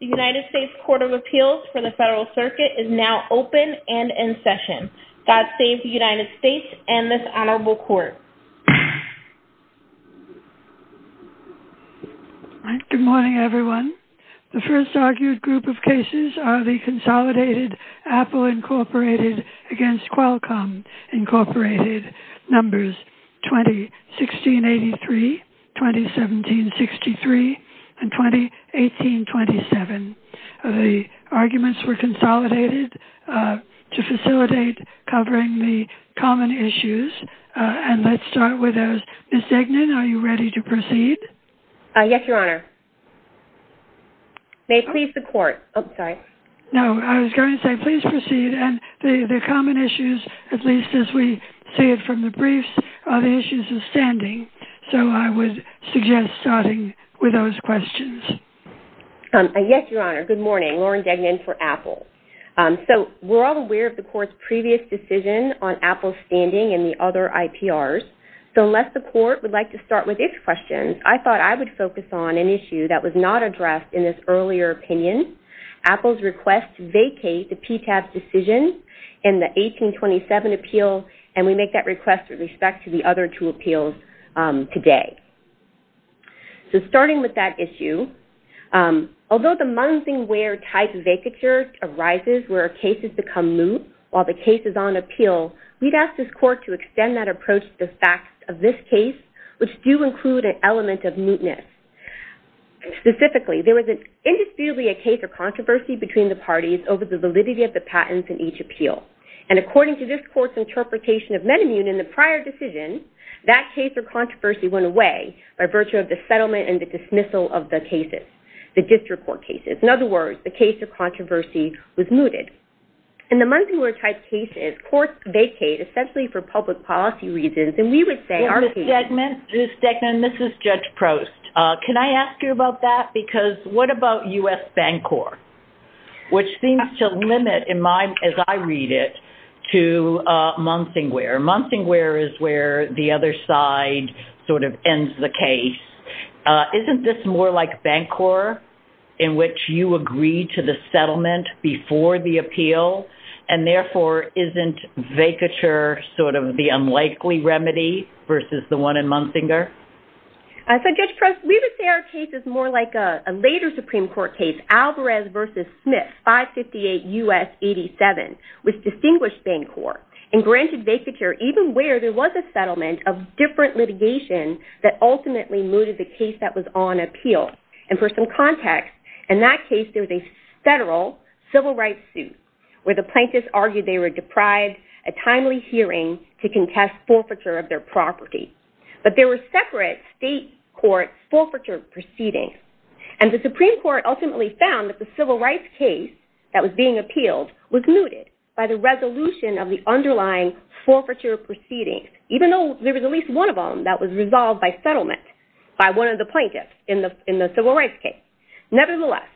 The United States Court of Appeals for the Federal Circuit is now open and in session. God save the United States and this honorable court. Good morning, everyone. The first argued group of cases are the Consolidated Apple Incorporated against Qualcomm Incorporated. Numbers 20-1683, 20-1763, and 20-1827. The arguments were consolidated to facilitate covering the common issues. And let's start with those. Ms. Degnan, are you ready to proceed? Yes, your honor. May it please the court. No, I was going to say please proceed. And the common issues, at least as we see it from the briefs, are the issues of standing. So I would suggest starting with those questions. Yes, your honor. Good morning. Lauren Degnan for Apple. So we're all aware of the court's previous decision on Apple's standing and the other IPRs. So unless the court would like to start with its questions, I thought I would focus on an issue that was not addressed in this earlier opinion. Apple's request to vacate the PTAB's decision in the 1827 appeal, and we make that request with respect to the other two appeals today. So starting with that issue. Although the mungingware-type vacature arises where cases become moot while the case is on appeal, we'd ask this court to extend that approach to the facts of this case, which do include an element of mootness. Specifically, there was indisputably a case of controversy between the parties over the validity of the patents in each appeal. And according to this court's interpretation of men immune in the prior decision, that case of controversy went away by virtue of the settlement and the dismissal of the cases, the district court cases. In other words, the case of controversy was mooted. In the mungingware-type cases, courts vacate essentially for public policy reasons. Ms. Stegman, this is Judge Prost. Can I ask you about that? Because what about U.S. Bancorp, which seems to limit, as I read it, to mungingware? Mungingware is where the other side sort of ends the case. Isn't this more like Bancorp, in which you agree to the settlement before the appeal, and therefore isn't vacature sort of the unlikely remedy versus the one in mungingware? So, Judge Prost, we would say our case is more like a later Supreme Court case, Alvarez v. Smith, 558 U.S. 87, with distinguished Bancorp, and granted vacature even where there was a settlement of different litigation that ultimately mooted the case that was on appeal. And for some context, in that case there was a federal civil rights suit, where the plaintiffs argued they were deprived a timely hearing to contest forfeiture of their property. But there were separate state court forfeiture proceedings, and the Supreme Court ultimately found that the civil rights case that was being appealed was mooted by the resolution of the underlying forfeiture proceedings, even though there was at least one of them that was resolved by settlement by one of the plaintiffs in the civil rights case. Nevertheless,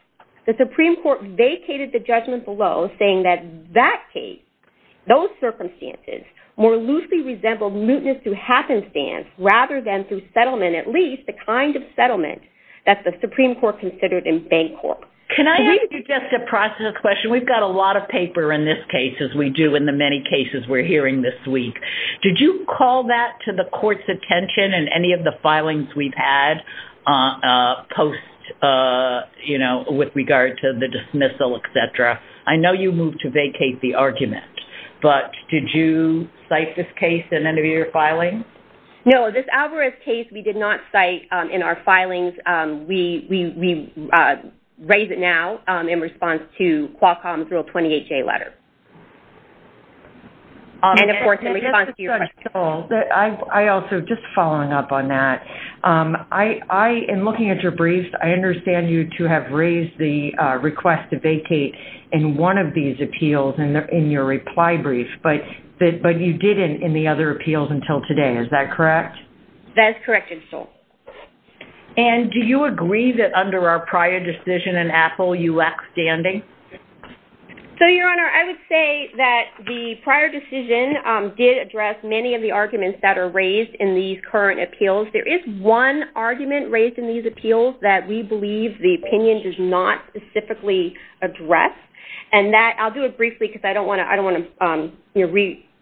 the Supreme Court vacated the judgment below, saying that that case, those circumstances, more loosely resembled mootness through happenstance rather than through settlement, at least the kind of settlement that the Supreme Court considered in Bancorp. Can I ask you just a process question? We've got a lot of paper in this case, as we do in the many cases we're hearing this week. Did you call that to the court's attention in any of the filings we've had post, you know, with regard to the dismissal, et cetera? I know you moved to vacate the argument, but did you cite this case in any of your filings? No, this Alvarez case we did not cite in our filings. We raise it now in response to Qualcomm's Rule 20HA letter. And, of course, in response to your question. I also, just following up on that, I, in looking at your briefs, I understand you to have raised the request to vacate in one of these appeals in your reply brief, but you didn't in the other appeals until today. Is that correct? That is correct, Ms. Stoll. And do you agree that under our prior decision in AFL-UX standing? So, Your Honor, I would say that the prior decision did address many of the arguments that are raised in these current appeals. There is one argument raised in these appeals that we believe the opinion does not specifically address. And that, I'll do it briefly because I don't want to, you know,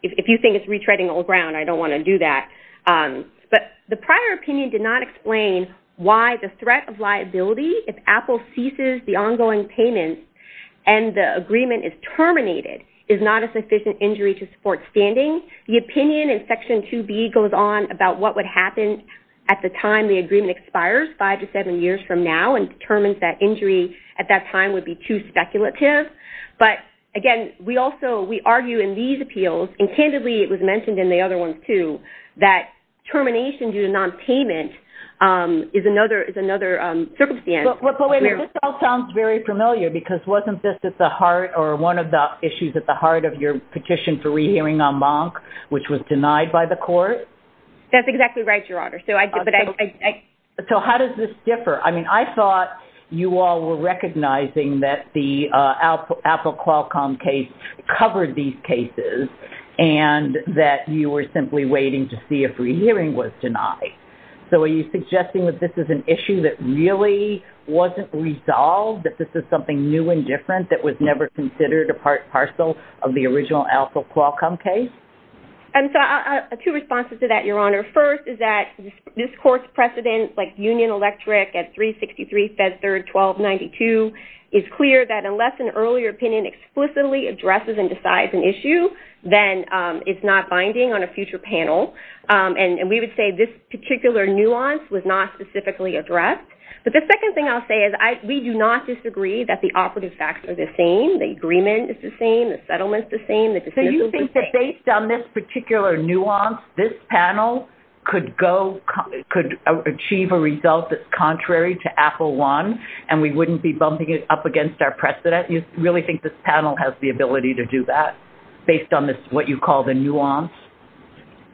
if you think it's retreading old ground, I don't want to do that. But the prior opinion did not explain why the threat of liability, if Apple ceases the ongoing payment and the agreement is terminated, is not a sufficient injury to support standing. The opinion in Section 2B goes on about what would happen at the time the agreement expires, five to seven years from now, and determines that injury at that time would be too speculative. But, again, we also, we argue in these appeals, and candidly it was mentioned in the other ones too, that termination due to nonpayment is another circumstance. But, wait a minute, this all sounds very familiar because wasn't this at the heart or one of the issues at the heart of your petition for rehearing en banc, which was denied by the court? That's exactly right, Your Honor. So, how does this differ? I mean, I thought you all were recognizing that the Apple Qualcomm case covered these cases and that you were simply waiting to see if rehearing was denied. So, are you suggesting that this is an issue that really wasn't resolved, that this is something new and different that was never considered a part parcel of the original Apple Qualcomm case? And so, two responses to that, Your Honor. First is that this court's precedent, like Union Electric at 363 Fed Third 1292, is clear that unless an earlier opinion explicitly addresses and decides an issue, then it's not binding on a future panel. And we would say this particular nuance was not specifically addressed. But the second thing I'll say is we do not disagree that the operative facts are the same, the agreement is the same, the settlement is the same, the decisions are the same. So, you think that based on this particular nuance, this panel could achieve a result that's contrary to Apple I and we wouldn't be bumping it up against our precedent? You really think this panel has the ability to do that based on what you call the nuance?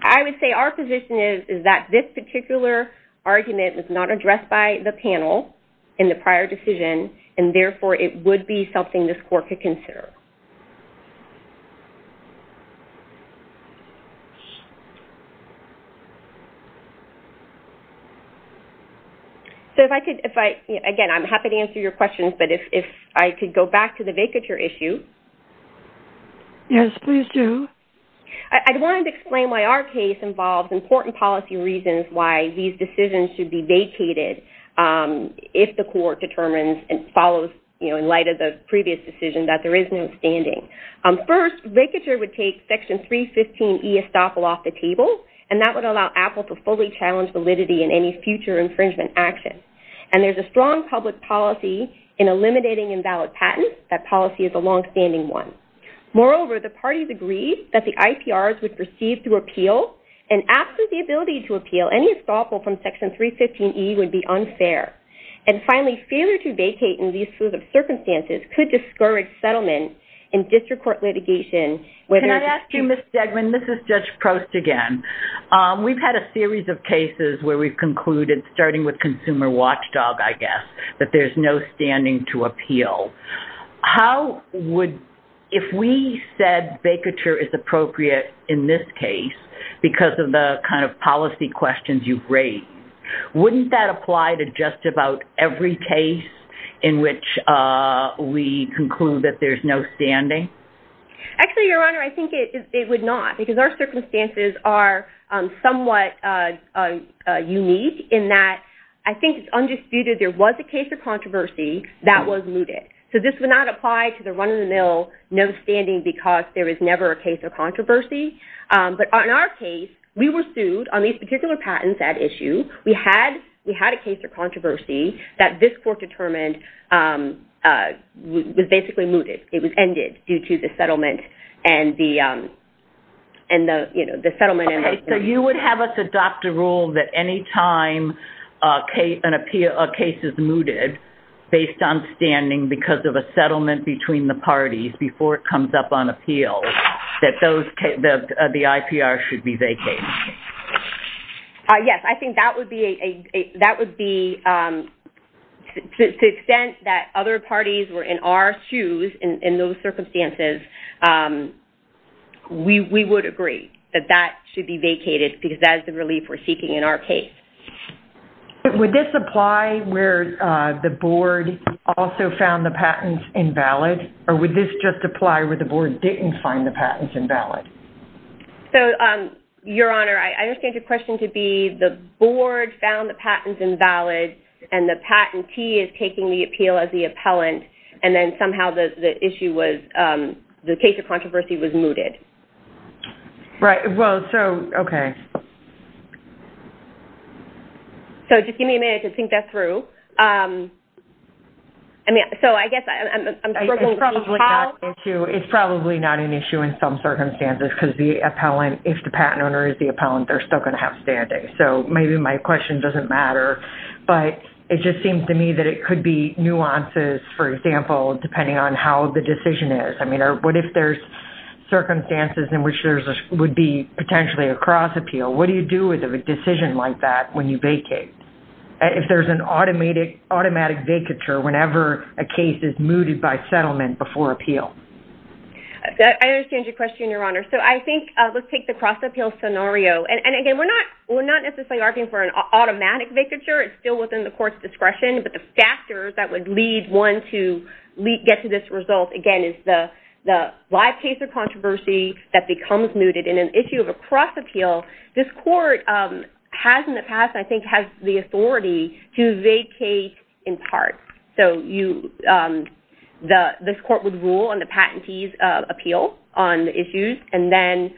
I would say our position is that this particular argument was not addressed by the panel in the prior decision and, therefore, it would be something this court could consider. So, if I could, again, I'm happy to answer your questions, but if I could go back to the vacature issue. Yes, please do. I wanted to explain why our case involves important policy reasons why these decisions should be vacated if the court determines and follows, you know, First, vacature would take Section 315E estoppel off the table and that would allow Apple to fully challenge validity in any future infringement action. And there's a strong public policy in eliminating invalid patents. That policy is a longstanding one. Moreover, the parties agreed that the IPRs would proceed to appeal and after the ability to appeal, any estoppel from Section 315E would be unfair. And, finally, failure to vacate in these sorts of circumstances could discourage settlement in district court litigation. Can I ask you, Ms. Stegman, this is Judge Prost again. We've had a series of cases where we've concluded, starting with Consumer Watchdog, I guess, that there's no standing to appeal. How would, if we said vacature is appropriate in this case because of the kind of policy questions you've raised, wouldn't that apply to just about every case in which we conclude that there's no standing? Actually, Your Honor, I think it would not because our circumstances are somewhat unique in that I think it's undisputed there was a case of controversy that was mooted. So this would not apply to the run-of-the-mill no standing because there was never a case of controversy. But in our case, we were sued on these particular patents at issue. We had a case of controversy that this court determined was basically mooted. It was ended due to the settlement and the settlement... Okay, so you would have us adopt a rule that any time a case is mooted based on standing because of a settlement between the parties before it comes up on appeal that the IPR should be vacated? Yes, I think that would be... To the extent that other parties were in our shoes in those circumstances, we would agree that that should be vacated because that is the relief we're seeking in our case. Would this apply where the board also found the patents invalid or would this just apply where the board didn't find the patents invalid? Your Honor, I understand your question to be the board found the patents invalid and the patentee is taking the appeal as the appellant and then somehow the case of controversy was mooted. Right, well, okay. So just give me a minute to think that through. I mean, so I guess... It's probably not an issue in some circumstances because if the patent owner is the appellant, they're still going to have standing. So maybe my question doesn't matter, but it just seems to me that it could be nuances, for example, depending on how the decision is. I mean, what if there's circumstances in which there would be potentially a cross-appeal? What do you do with a decision like that when you vacate? If there's an automatic vacature whenever a case is mooted by settlement before appeal? I understand your question, Your Honor. So I think let's take the cross-appeal scenario. And again, we're not necessarily arguing for an automatic vacature. It's still within the court's discretion, but the factors that would lead one to get to this result, again, is the live case of controversy that becomes mooted in an issue of a cross-appeal. This court has in the past, I think, has the authority to vacate in part. So this court would rule on the patentee's appeal on the issues, and then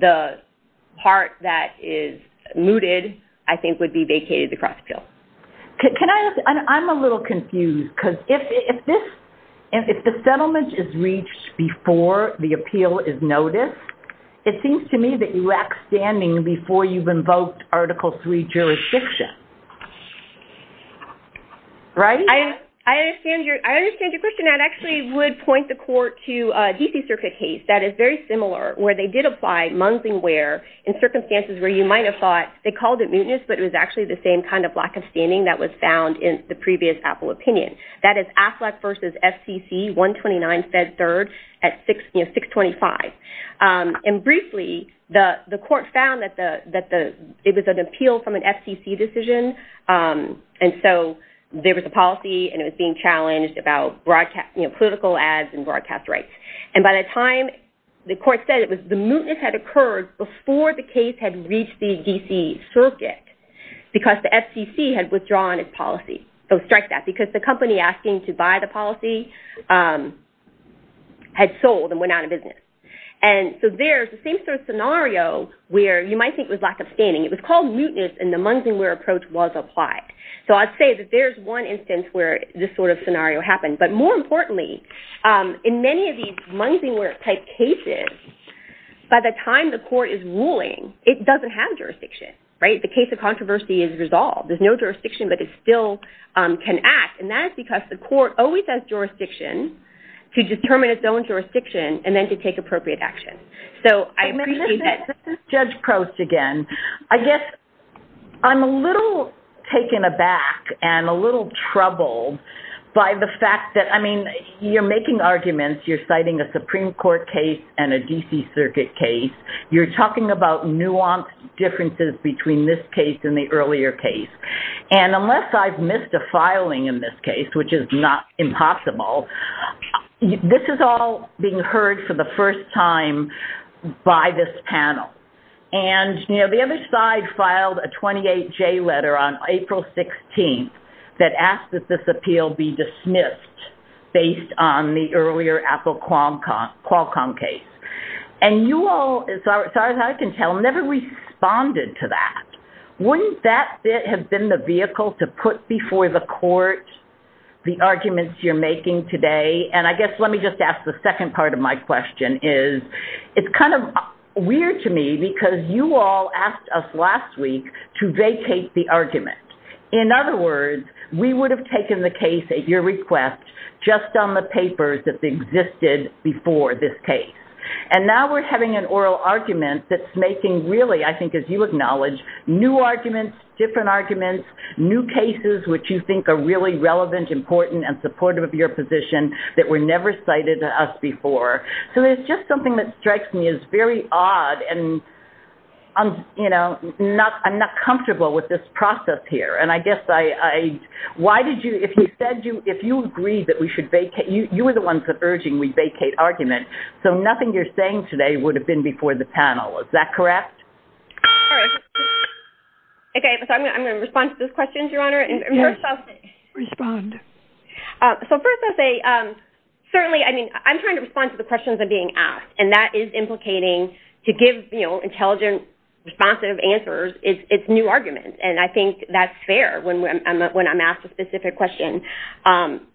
the part that is mooted, I think, would be vacated the cross-appeal. Can I ask... I'm a little confused because if the settlement is reached before the appeal is noticed, it seems to me that you lack standing before you've invoked Article III jurisdiction, right? I understand your question. I actually would point the court to a D.C. Circuit case that is very similar where they did apply mungingware in circumstances where you might have thought they called it mootness, but it was actually the same kind of lack of standing that was found in the previous Apple opinion. That is Affleck v. FCC, 129 Fed 3rd at 625. And briefly, the court found that it was an appeal from an FCC decision, and so there was a policy and it was being challenged about political ads and broadcast rights. And by the time the court said it, the mootness had occurred before the case had reached the D.C. Circuit because the FCC had withdrawn its policy. So strike that, because the company asking to buy the policy had sold and went out of business. And so there's the same sort of scenario where you might think it was lack of standing. It was called mootness and the mungingware approach was applied. So I'd say that there's one instance where this sort of scenario happened. But more importantly, in many of these mungingware-type cases, by the time the court is ruling, it doesn't have jurisdiction, right? The case of controversy is resolved. There's no jurisdiction, but it still can act, and that is because the court always has jurisdiction to determine its own jurisdiction and then to take appropriate action. So I appreciate that. Let's let Judge Prost again. I guess I'm a little taken aback and a little troubled by the fact that, I mean, you're making arguments. You're citing a Supreme Court case and a D.C. Circuit case. You're talking about nuanced differences between this case and the earlier case. And unless I've missed a filing in this case, which is not impossible, this is all being heard for the first time by this panel. And, you know, the other side filed a 28-J letter on April 16th that asked that this appeal be dismissed based on the earlier Apple Qualcomm case. And you all, as far as I can tell, never responded to that. Wouldn't that have been the vehicle to put before the court the arguments you're making today? And I guess let me just ask the second part of my question is, it's kind of weird to me because you all asked us last week to vacate the argument. In other words, we would have taken the case at your request just on the papers that existed before this case. And now we're having an oral argument that's making, really, I think as you acknowledge, new arguments, different arguments, new cases which you think are really relevant, important, and supportive of your position that were never cited to us before. So it's just something that strikes me as very odd and, you know, I'm not comfortable with this process here. And I guess I, why did you, if you said you, if you agreed that we should vacate, you were the ones urging we vacate argument, so nothing you're saying today would have been before the panel. Is that correct? Okay, so I'm going to respond to those questions, Your Honor. Respond. So first I'll say, certainly, I mean, I'm trying to respond to the questions that are being asked, and that is implicating to give, you know, intelligent, responsive answers, it's new arguments, and I think that's fair when I'm asked a specific question.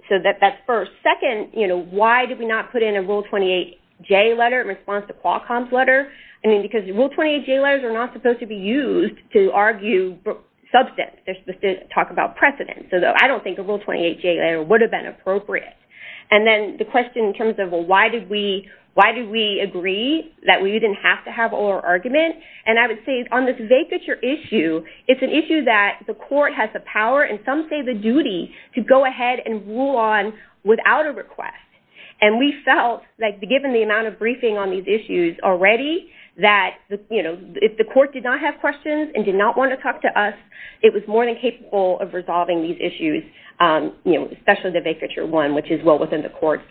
So that's first. Second, you know, why did we not put in a Rule 28J letter in response to Qualcomm's letter? I mean, because Rule 28J letters are not supposed to be used to argue substance. They're supposed to talk about precedent. So I don't think a Rule 28J letter would have been appropriate. And then the question in terms of, well, why did we, why did we agree that we didn't have to have oral argument? And I would say on this vacatur issue, it's an issue that the court has the power and some say the duty to go ahead and rule on without a request. And we felt, like, given the amount of briefing on these issues already, that, you know, if the court did not have questions and did not want to talk to us, it was more than capable of resolving these issues, you know, especially the vacatur one, which is well within the court's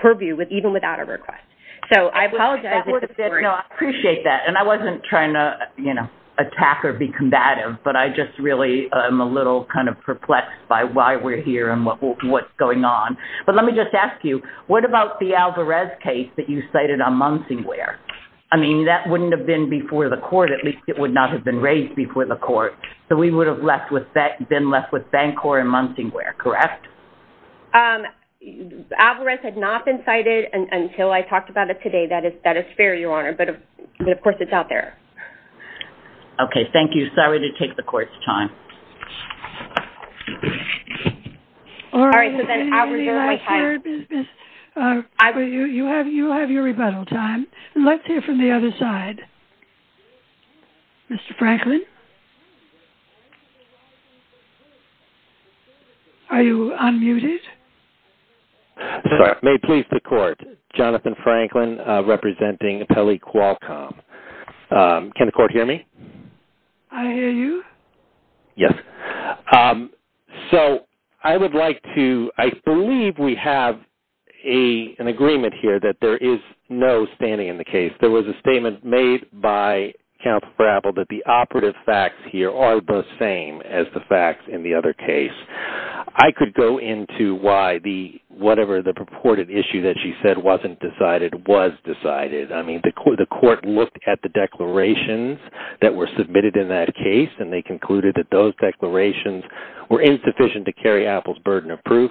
purview, even without a request. So I apologize. No, I appreciate that. And I wasn't trying to, you know, attack or be combative, but I just really am a little kind of perplexed by why we're here and what's going on. But let me just ask you, what about the Alvarez case that you cited on Munsingware? I mean, that wouldn't have been before the court. At least it would not have been raised before the court. So we would have been left with Bancor and Munsingware, correct? Alvarez had not been cited until I talked about it today. That is fair, Your Honor. But, of course, it's out there. Okay. Thank you. Sorry to take the court's time. All right. So then Alvarez, you're on my time. You have your rebuttal time. Let's hear from the other side. Mr. Franklin? Mr. Franklin? Are you unmuted? May it please the court, Jonathan Franklin representing Pele Qualcomm. Can the court hear me? I hear you. Yes. So I would like to ‑‑ I believe we have an agreement here that there is no standing in the case. If there was a statement made by counsel for Apple that the operative facts here are the same as the facts in the other case, I could go into why whatever the purported issue that she said wasn't decided was decided. I mean, the court looked at the declarations that were submitted in that case, and they concluded that those declarations were insufficient to carry Apple's burden of proof.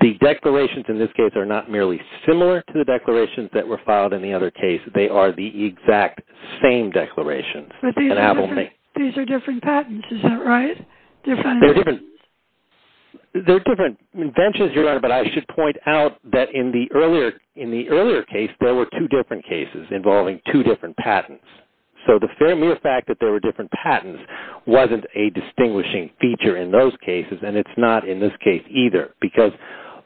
The declarations in this case are not merely similar to the declarations that were filed in the other case. They are the exact same declarations that Apple made. But these are different patents. Is that right? They're different inventions, Your Honor, but I should point out that in the earlier case there were two different cases involving two different patents. So the very mere fact that there were different patents wasn't a distinguishing feature in those cases, and it's not in this case either, because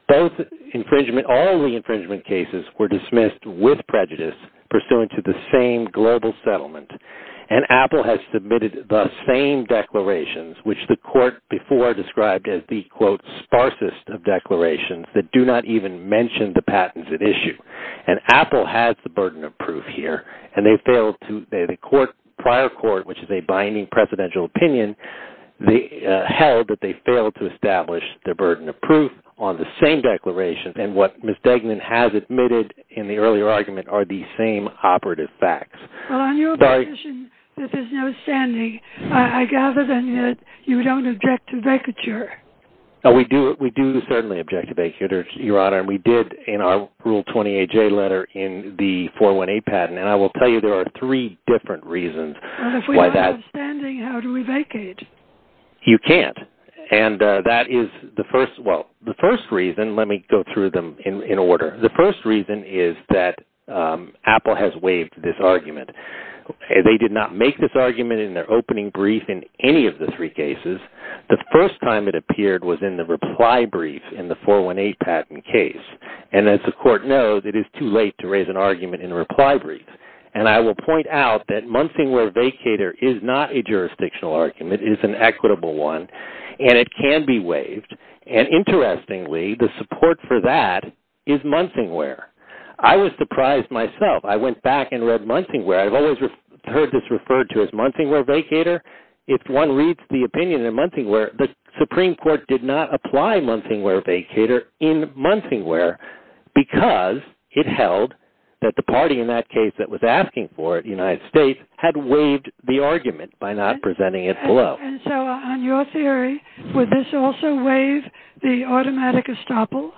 all the infringement cases were dismissed with prejudice pursuant to the same global settlement, and Apple has submitted the same declarations, which the court before described as the, quote, sparsest of declarations that do not even mention the patents at issue. And Apple has the burden of proof here, and they failed to ‑‑ the prior court, which is a binding presidential opinion, held that they failed to establish the burden of proof on the same declaration, and what Ms. Degnan has admitted in the earlier argument are the same operative facts. Well, on your position that there's no standing, I gather then that you don't object to vacature. We do certainly object to vacature, Your Honor, and we did in our Rule 28J letter in the 418 patent, and I will tell you there are three different reasons why that ‑‑ You can't. And that is the first ‑‑ well, the first reason, let me go through them in order. The first reason is that Apple has waived this argument. They did not make this argument in their opening brief in any of the three cases. The first time it appeared was in the reply brief in the 418 patent case, and as the court knows, it is too late to raise an argument in a reply brief, and I will point out that Munsingwear vacater is not a jurisdictional argument. It is an equitable one, and it can be waived, and interestingly, the support for that is Munsingwear. I was surprised myself. I went back and read Munsingwear. I've always heard this referred to as Munsingwear vacater. If one reads the opinion in Munsingwear, the Supreme Court did not apply Munsingwear vacater in Munsingwear because it held that the party in that case that was asking for it, the United States, had waived the argument by not presenting it below. And so on your theory, would this also waive the automatic estoppel?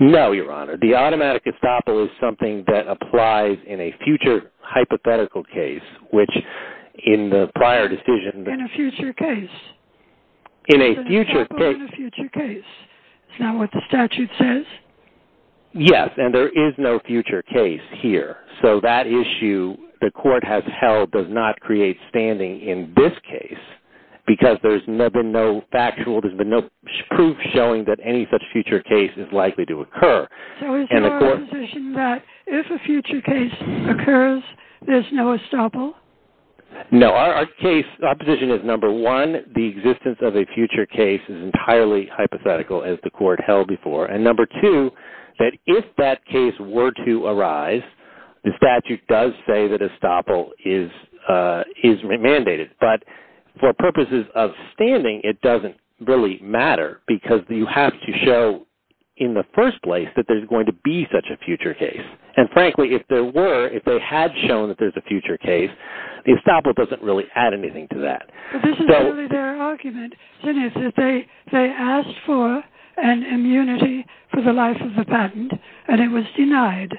No, Your Honor. The automatic estoppel is something that applies in a future hypothetical case, which in the prior decision ‑‑ In a future case. In a future case. Is that what the statute says? Yes, and there is no future case here. So that issue the court has held does not create standing in this case because there's been no factual ‑‑ there's been no proof showing that any such future case is likely to occur. So is your position that if a future case occurs, there's no estoppel? No. Our case, our position is, number one, that the existence of a future case is entirely hypothetical, as the court held before. And number two, that if that case were to arise, the statute does say that estoppel is mandated. But for purposes of standing, it doesn't really matter because you have to show in the first place that there's going to be such a future case. And frankly, if there were, if they had shown that there's a future case, the estoppel doesn't really add anything to that. But this is really their argument, Ginnis, that they asked for an immunity for the life of the patent, and it was denied.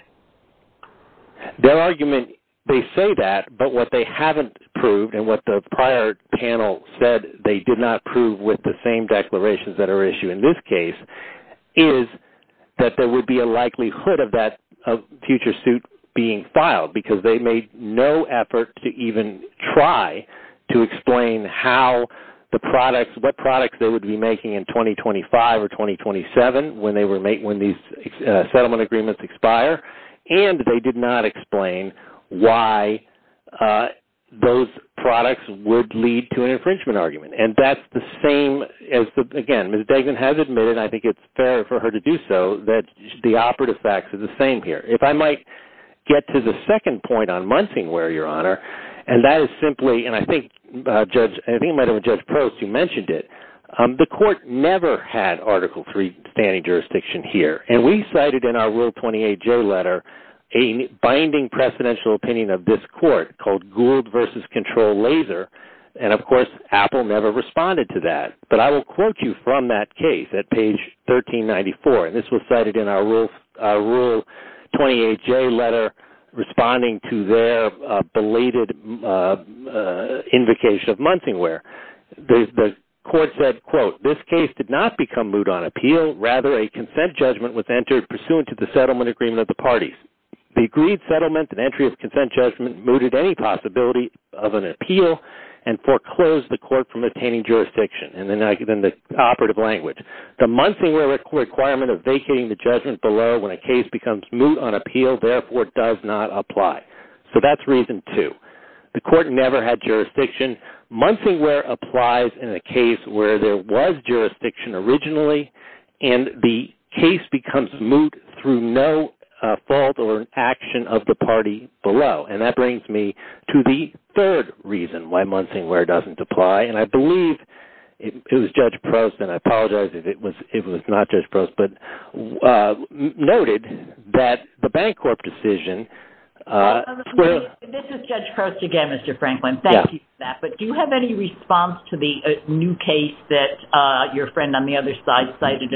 Their argument, they say that, but what they haven't proved and what the prior panel said they did not prove with the same declarations that are issued in this case is that there would be a likelihood of that future suit being filed because they made no effort to even try to explain how the products, what products they would be making in 2025 or 2027 when these settlement agreements expire, and they did not explain why those products would lead to an infringement argument. And that's the same as, again, Ms. Degen has admitted, and I think it's fair for her to do so, that the operative facts are the same here. If I might get to the second point on Munsingware, Your Honor, and that is simply, and I think it might have been Judge Post who mentioned it, the court never had Article III standing jurisdiction here. And we cited in our Rule 28-J letter a binding precedential opinion of this court called Gould v. Control Laser, and of course Apple never responded to that. But I will quote you from that case at page 1394, and this was cited in our Rule 28-J letter responding to their belated invocation of Munsingware. The court said, quote, This case did not become moot on appeal. Rather, a consent judgment was entered pursuant to the settlement agreement of the parties. The agreed settlement and entry of consent judgment mooted any possibility of an appeal and foreclosed the court from attaining jurisdiction. And then the operative language. The Munsingware requirement of vacating the judgment below when a case becomes moot on appeal, therefore, does not apply. So that's reason two. The court never had jurisdiction. Munsingware applies in a case where there was jurisdiction originally, and the case becomes moot through no fault or action of the party below. And that brings me to the third reason why Munsingware doesn't apply, and I believe it was Judge Prost, and I apologize if it was not Judge Prost, but noted that the Bancorp decision. This is Judge Prost again, Mr. Franklin. Thank you for that. But do you have any response to the new case that your friend on the other side cited,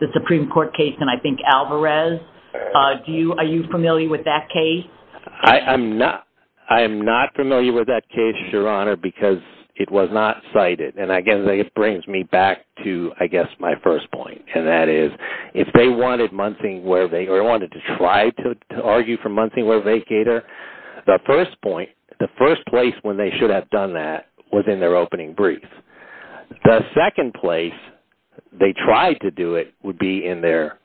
the Supreme Court case in, I think, Alvarez? Are you familiar with that case? I am not familiar with that case, Your Honor, because it was not cited. And, again, it brings me back to, I guess, my first point, and that is if they wanted Munsingware or wanted to try to argue for Munsingware vacater, the first point, the first place when they should have done that was in their opening brief. The second place they tried to do it would be in their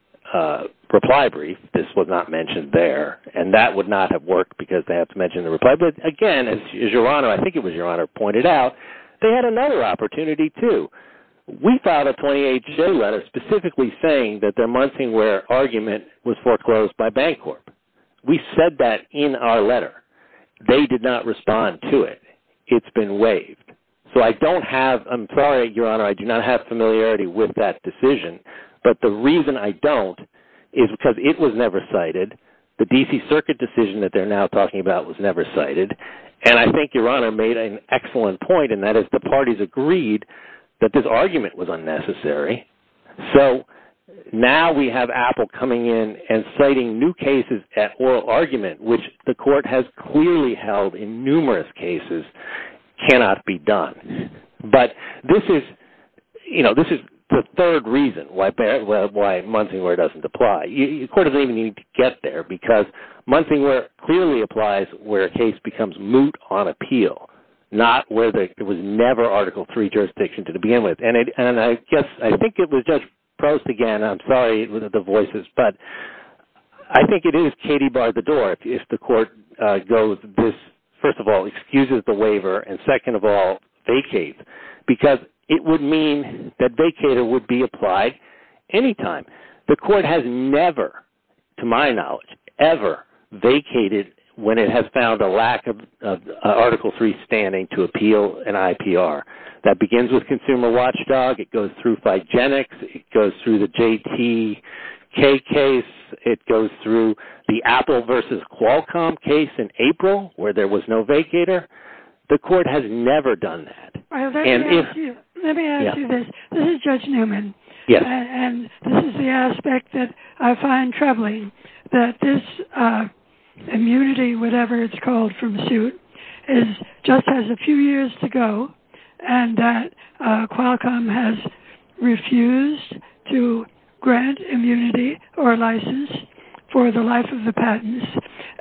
reply brief. This was not mentioned there, and that would not have worked because they have to mention the reply. But, again, as Your Honor, I think it was Your Honor, pointed out, they had another opportunity too. We filed a 28-J letter specifically saying that their Munsingware argument was foreclosed by Bancorp. We said that in our letter. They did not respond to it. It's been waived. So I don't have, I'm sorry, Your Honor, I do not have familiarity with that decision. But the reason I don't is because it was never cited. The D.C. Circuit decision that they're now talking about was never cited. And I think Your Honor made an excellent point, and that is the parties agreed that this argument was unnecessary. So now we have Apple coming in and citing new cases at oral argument, which the court has clearly held in numerous cases cannot be done. But this is, you know, this is the third reason why Munsingware doesn't apply. The court doesn't even need to get there because Munsingware clearly applies where a case becomes moot on appeal, not where there was never Article III jurisdiction to begin with. And I guess I think it was Judge Prost again. I'm sorry for the voices, but I think it is Katie barred the door. If the court goes, first of all, excuses the waiver, and second of all, vacate, because it would mean that vacater would be applied any time. The court has never, to my knowledge, ever vacated when it has found a lack of Article III standing to appeal an IPR. That begins with Consumer Watchdog. It goes through Figenics. It goes through the JTK case. It goes through the Apple versus Qualcomm case in April where there was no vacater. The court has never done that. Let me ask you this. This is Judge Newman. Yes. And this is the aspect that I find troubling, that this immunity, whatever it's called from suit, just has a few years to go and that Qualcomm has refused to grant immunity or license for the life of the patents.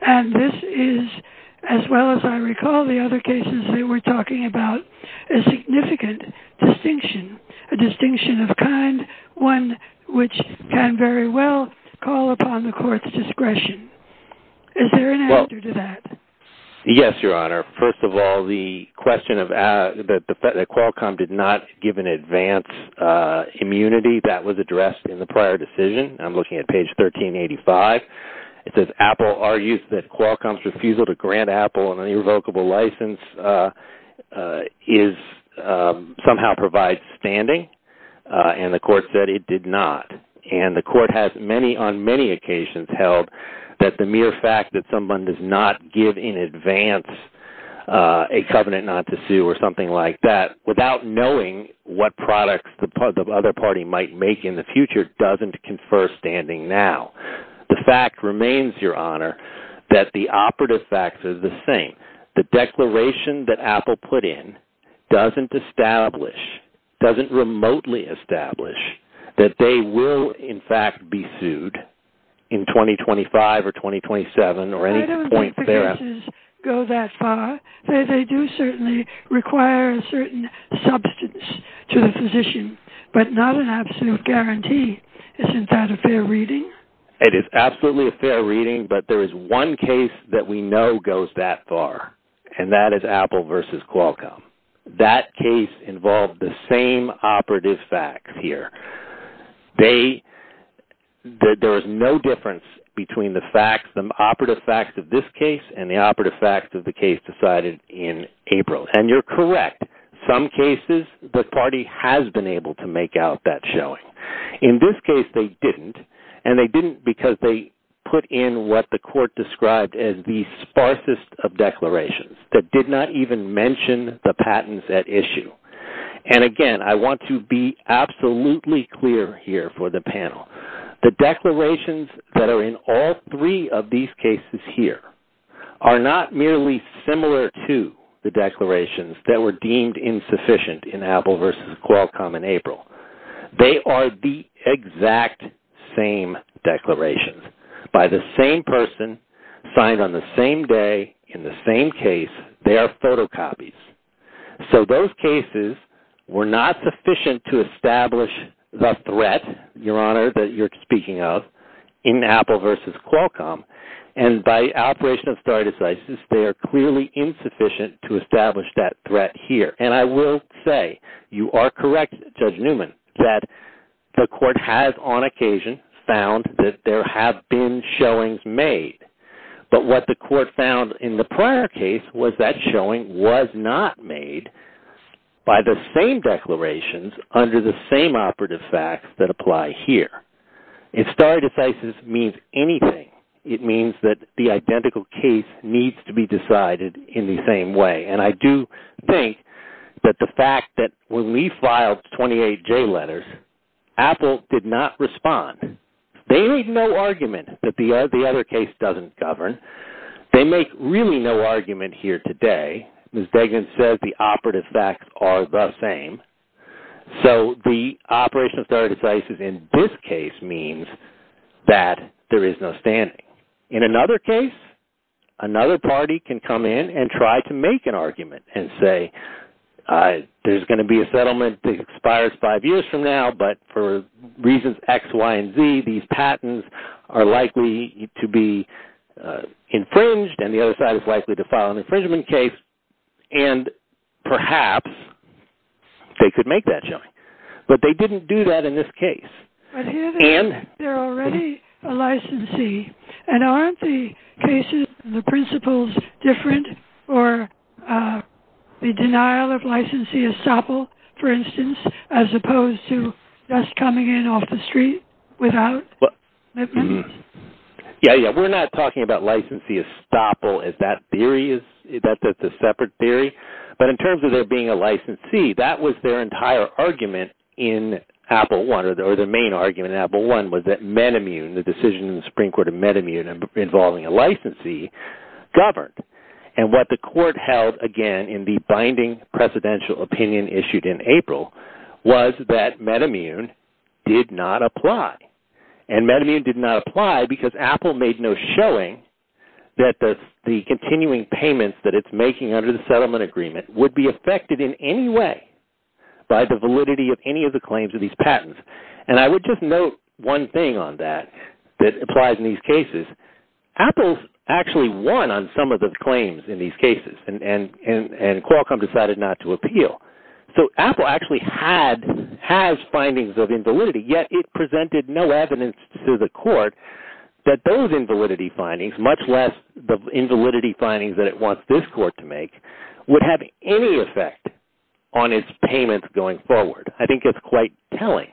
And this is, as well as I recall the other cases that we're talking about, a significant distinction, a distinction of kind, one which can very well call upon the court's discretion. Is there an answer to that? Yes, Your Honor. First of all, the question that Qualcomm did not give an advance immunity, that was addressed in the prior decision. I'm looking at page 1385. It says Apple argues that Qualcomm's refusal to grant Apple an irrevocable license somehow provides standing. And the court said it did not. And the court has on many occasions held that the mere fact that someone does not give in advance a covenant not to sue or something like that without knowing what products the other party might make in the future doesn't confer standing now. The fact remains, Your Honor, that the operative facts are the same. The declaration that Apple put in doesn't establish, doesn't remotely establish that they will, in fact, be sued in 2025 or 2027 or any point thereafter. I don't think the cases go that far. They do certainly require a certain substance to the physician, but not an absolute guarantee. Isn't that a fair reading? It is absolutely a fair reading, but there is one case that we know goes that far, and that is Apple v. Qualcomm. That case involved the same operative facts here. There is no difference between the facts, the operative facts of this case and the operative facts of the case decided in April. And you're correct. Some cases, the party has been able to make out that showing. In this case, they didn't, and they didn't because they put in what the court described as the sparsest of declarations that did not even mention the patents at issue. And, again, I want to be absolutely clear here for the panel. The declarations that are in all three of these cases here are not merely similar to the declarations that were deemed insufficient in Apple v. Qualcomm in April. They are the exact same declarations. By the same person, signed on the same day, in the same case, they are photocopies. So those cases were not sufficient to establish the threat, Your Honor, that you're speaking of in Apple v. Qualcomm. And by operation of stare decisis, they are clearly insufficient to establish that threat here. And I will say, you are correct, Judge Newman, that the court has on occasion found that there have been showings made. But what the court found in the prior case was that showing was not made by the same declarations under the same operative facts that apply here. If stare decisis means anything, it means that the identical case needs to be decided in the same way. And I do think that the fact that when we filed 28J letters, Apple did not respond. They made no argument that the other case doesn't govern. They make really no argument here today. Ms. Degen says the operative facts are the same. So the operation of stare decisis in this case means that there is no standing. In another case, another party can come in and try to make an argument and say there's going to be a settlement that expires five years from now. But for reasons X, Y, and Z, these patents are likely to be infringed, and the other side is likely to file an infringement case. And perhaps they could make that showing. But they didn't do that in this case. But here they're already a licensee. And aren't the cases and the principles different, or the denial of licensee estoppel, for instance, as opposed to just coming in off the street without commitments? Yeah, yeah. We're not talking about licensee estoppel. That's a separate theory. But in terms of there being a licensee, that was their entire argument in Apple I, or their main argument in Apple I, was that Metamune, the decision in the Supreme Court of Metamune involving a licensee, governed. And what the court held, again, in the binding presidential opinion issued in April was that Metamune did not apply. And Metamune did not apply because Apple made no showing that the continuing payments that it's making under the settlement agreement would be affected in any way by the validity of any of the claims of these patents. And I would just note one thing on that that applies in these cases. Apple actually won on some of the claims in these cases, and Qualcomm decided not to appeal. So Apple actually has findings of invalidity, yet it presented no evidence to the court that those invalidity findings, much less the invalidity findings that it wants this court to make, would have any effect on its payments going forward. I think it's quite telling.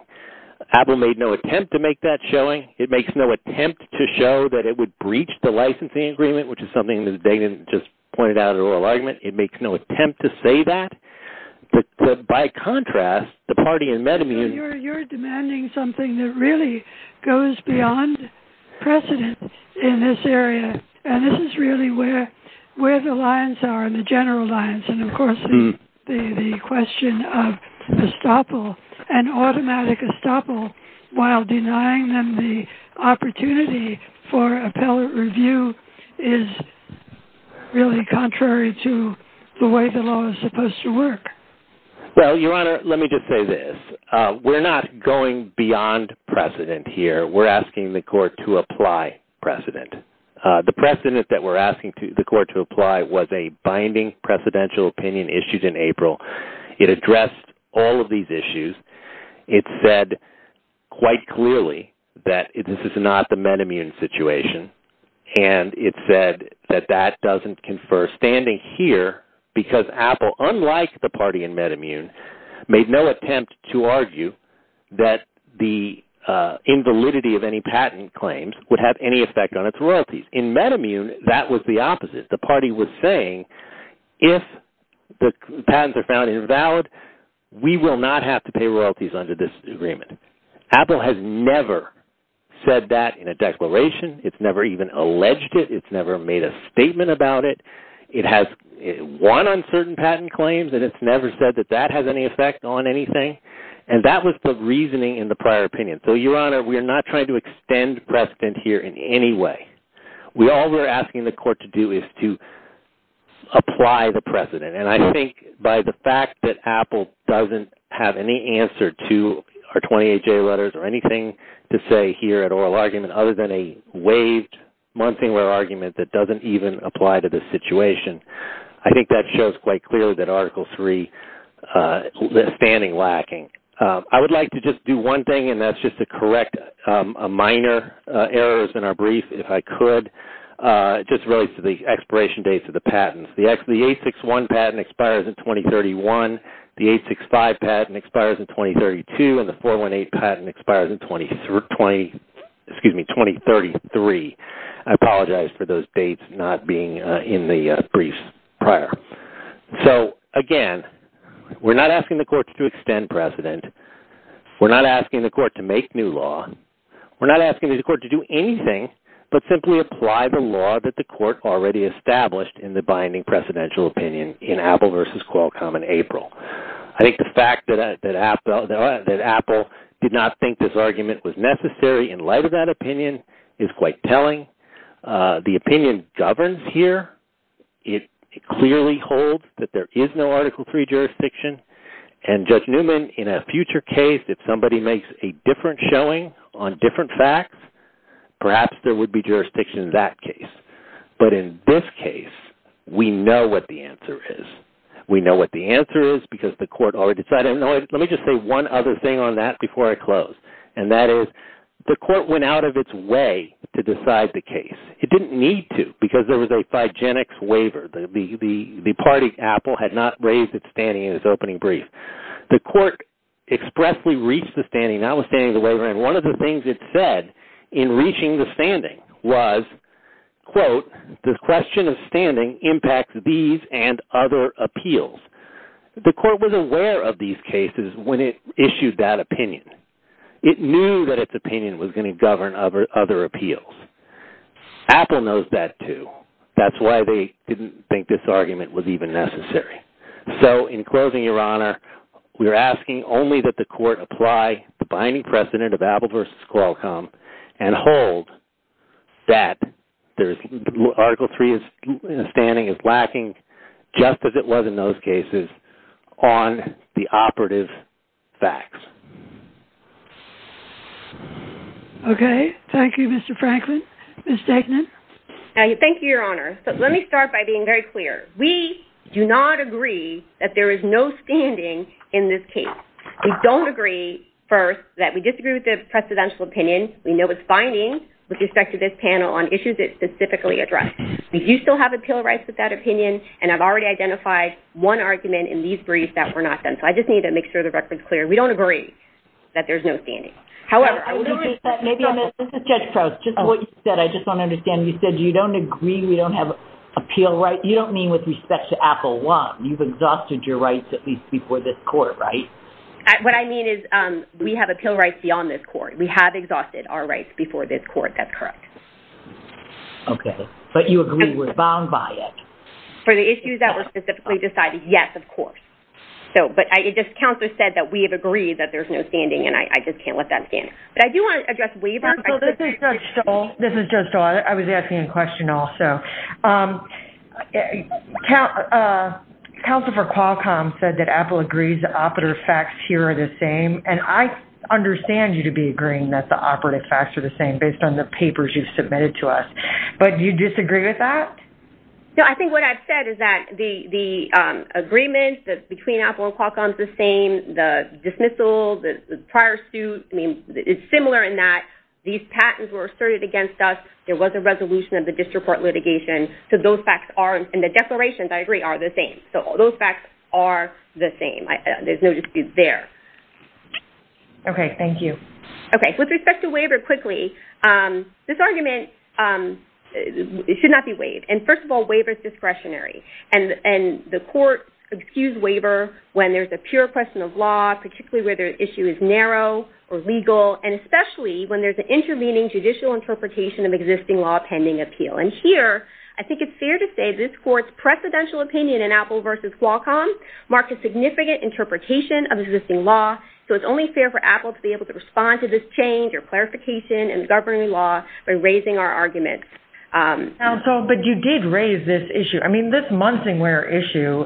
Apple made no attempt to make that showing. It makes no attempt to show that it would breach the licensing agreement, which is something that Dana just pointed out in her oral argument. It makes no attempt to say that. But by contrast, the party in Metamune... Well, Your Honor, let me just say this. We're not going beyond precedent here. We're asking the court to apply precedent. The precedent that we're asking the court to apply was a binding presidential opinion issued in April. It addressed all of these issues. It said quite clearly that this is not the Metamune situation. And it said that that doesn't confer standing here because Apple, unlike the party in Metamune, made no attempt to argue that the invalidity of any patent claims would have any effect on its royalties. In Metamune, that was the opposite. The party was saying if the patents are found invalid, we will not have to pay royalties under this agreement. Apple has never said that in a declaration. It's never even alleged it. It's never made a statement about it. It has won on certain patent claims, and it's never said that that has any effect on anything. And that was the reasoning in the prior opinion. So, Your Honor, we're not trying to extend precedent here in any way. All we're asking the court to do is to apply the precedent. And I think by the fact that Apple doesn't have any answer to our 28-J letters or anything to say here at oral argument other than a waived month-and-a-year argument that doesn't even apply to this situation, I think that shows quite clearly that Article III is standing lacking. I would like to just do one thing, and that's just to correct minor errors in our brief, if I could, just related to the expiration dates of the patents. The 861 patent expires in 2031. The 865 patent expires in 2032. And the 418 patent expires in 2033. I apologize for those dates not being in the briefs prior. So, again, we're not asking the court to extend precedent. We're not asking the court to make new law. We're not asking the court to do anything but simply apply the law that the court already established in the binding precedential opinion in Apple v. Qualcomm in April. I think the fact that Apple did not think this argument was necessary in light of that opinion is quite telling. The opinion governs here. It clearly holds that there is no Article III jurisdiction. And, Judge Newman, in a future case, if somebody makes a different showing on different facts, perhaps there would be jurisdiction in that case. But in this case, we know what the answer is. We know what the answer is because the court already decided. Let me just say one other thing on that before I close, and that is the court went out of its way to decide the case. It didn't need to because there was a Phygenics waiver. The party, Apple, had not raised its standing in its opening brief. The court expressly reached the standing, not withstanding the waiver. And one of the things it said in reaching the standing was, quote, the question of standing impacts these and other appeals. The court was aware of these cases when it issued that opinion. It knew that its opinion was going to govern other appeals. Apple knows that, too. That's why they didn't think this argument was even necessary. So, in closing, Your Honor, we are asking only that the court apply the binding precedent of Apple v. Qualcomm and hold that Article III standing is lacking, just as it was in those cases, on the operative facts. Okay. Thank you, Mr. Franklin. Ms. Degnan? Thank you, Your Honor. So, let me start by being very clear. We do not agree that there is no standing in this case. We don't agree, first, that we disagree with the precedential opinion. We know it's binding with respect to this panel on issues it specifically addressed. We do still have appeal rights with that opinion, and I've already identified one argument in these briefs that were not done. So, I just need to make sure the record's clear. We don't agree that there's no standing. However, I would appreciate that. This is Judge Crouse. Just what you said. I just don't understand. You said you don't agree we don't have appeal rights. You don't mean with respect to Apple I. You've exhausted your rights at least before this court, right? What I mean is we have appeal rights beyond this court. We have exhausted our rights before this court. That's correct. Okay. But you agree we're bound by it. For the issues that were specifically decided, yes, of course. Counselor said that we have agreed that there's no standing, and I just can't let that stand. But I do want to address waiver. First of all, this is Judge Stoll. This is Judge Stoll. I was asking a question also. Counsel for Qualcomm said that Apple agrees the operative facts here are the same, and I understand you to be agreeing that the operative facts are the same based on the papers you've submitted to us. But do you disagree with that? No, I think what I've said is that the agreement between Apple and Qualcomm is the same. The dismissal, the prior suit is similar in that these patents were asserted against us. There was a resolution of the district court litigation. So those facts are, and the declarations, I agree, are the same. So those facts are the same. There's no dispute there. Okay. Thank you. Okay. With respect to waiver, quickly, this argument should not be waived. And first of all, waiver is discretionary. And the court excuses waiver when there's a pure question of law, particularly where the issue is narrow or legal, and especially when there's an intervening judicial interpretation of existing law pending appeal. And here, I think it's fair to say this court's precedential opinion in Apple versus Qualcomm marked a significant interpretation of existing law, so it's only fair for Apple to be able to respond to this change or clarification in the governing law by raising our arguments. Counsel, but you did raise this issue. I mean, this Munsingwear issue,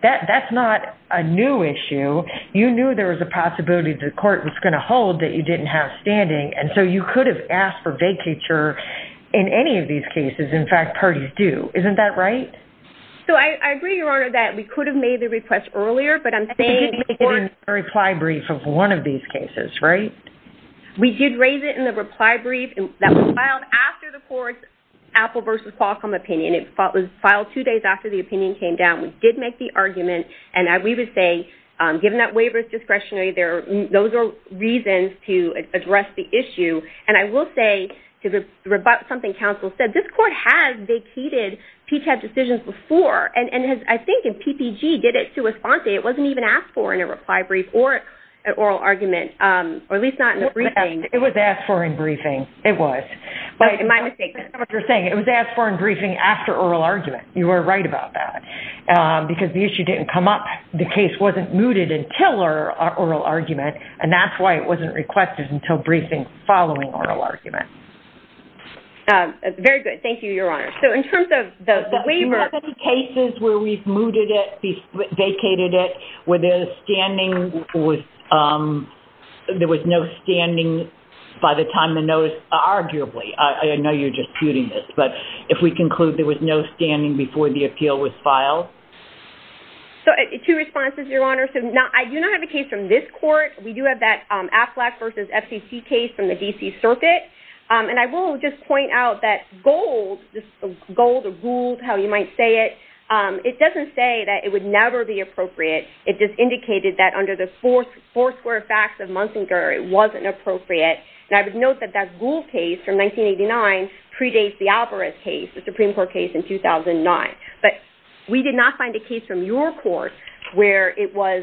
that's not a new issue. You knew there was a possibility the court was going to hold that you didn't have standing, and so you could have asked for vacature in any of these cases. In fact, parties do. Isn't that right? So I agree, Your Honor, that we could have made the request earlier, but I'm saying the court — But you did make it in the reply brief of one of these cases, right? We did raise it in the reply brief that was filed after the court's Apple versus Qualcomm opinion. It was filed two days after the opinion came down. We did make the argument, and we would say, given that waiver is discretionary, those are reasons to address the issue. And I will say something counsel said. This court has vacated PTAB decisions before, and I think PPG did it to respond to it. It wasn't even asked for in a reply brief or an oral argument, or at least not in a briefing. It was asked for in briefing. It was. Am I mistaken? That's not what you're saying. It was asked for in briefing after oral argument. You were right about that because the issue didn't come up. The case wasn't mooted until our oral argument, and that's why it wasn't requested until briefing following oral argument. Very good. Thank you, Your Honor. Do you have any cases where we've mooted it, vacated it, where there was no standing by the time the notice was filed? Arguably. I know you're just putting this, but if we conclude there was no standing before the appeal was filed? Two responses, Your Honor. I do not have a case from this court. We do have that AFLAC versus FCC case from the D.C. Circuit, and I will just point out that Gould, Gould or Gould, how you might say it, it doesn't say that it would never be appropriate. It just indicated that under the four square facts of Munsinger it wasn't appropriate, and I would note that that Gould case from 1989 predates the Alvarez case, the Supreme Court case in 2009. But we did not find a case from your court where it was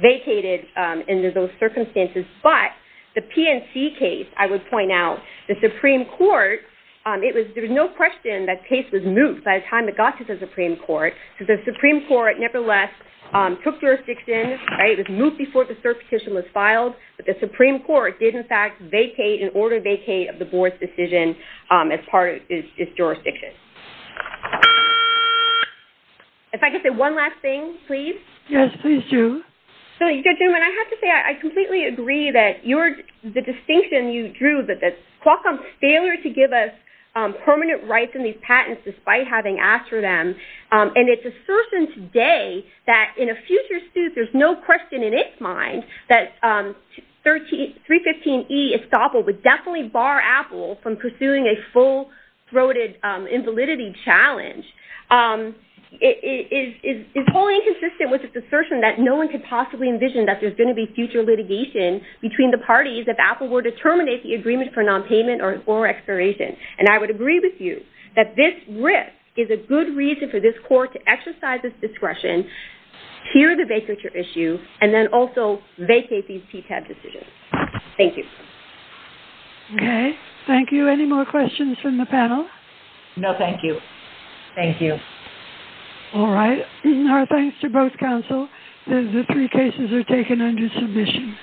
vacated under those circumstances, but the PNC case, I would point out, the Supreme Court, there was no question that case was moot by the time it got to the Supreme Court. The Supreme Court, nevertheless, took jurisdiction. It was moot before the cert petition was filed, but the Supreme Court did, in fact, vacate, in order to vacate, of the board's decision as part of its jurisdiction. If I could say one last thing, please. Yes, please do. So, gentlemen, I have to say I completely agree that the distinction you drew, that Qualcomm's failure to give us permanent rights in these patents, despite having asked for them, and its assertion today that in a future suit there's no question in its mind that 315E estoppel would definitely bar Apple from pursuing a full-throated invalidity challenge, is wholly inconsistent with its assertion that no one could possibly envision that there's going to be future litigation between the parties if Apple were to terminate the agreement for nonpayment or expiration. And I would agree with you that this risk is a good reason for this court to exercise its discretion, hear the vacature issue, and then also vacate these PTAB decisions. Thank you. Okay, thank you. Any more questions from the panel? No, thank you. Thank you. All right. Our thanks to both counsel. The three cases are taken under submission.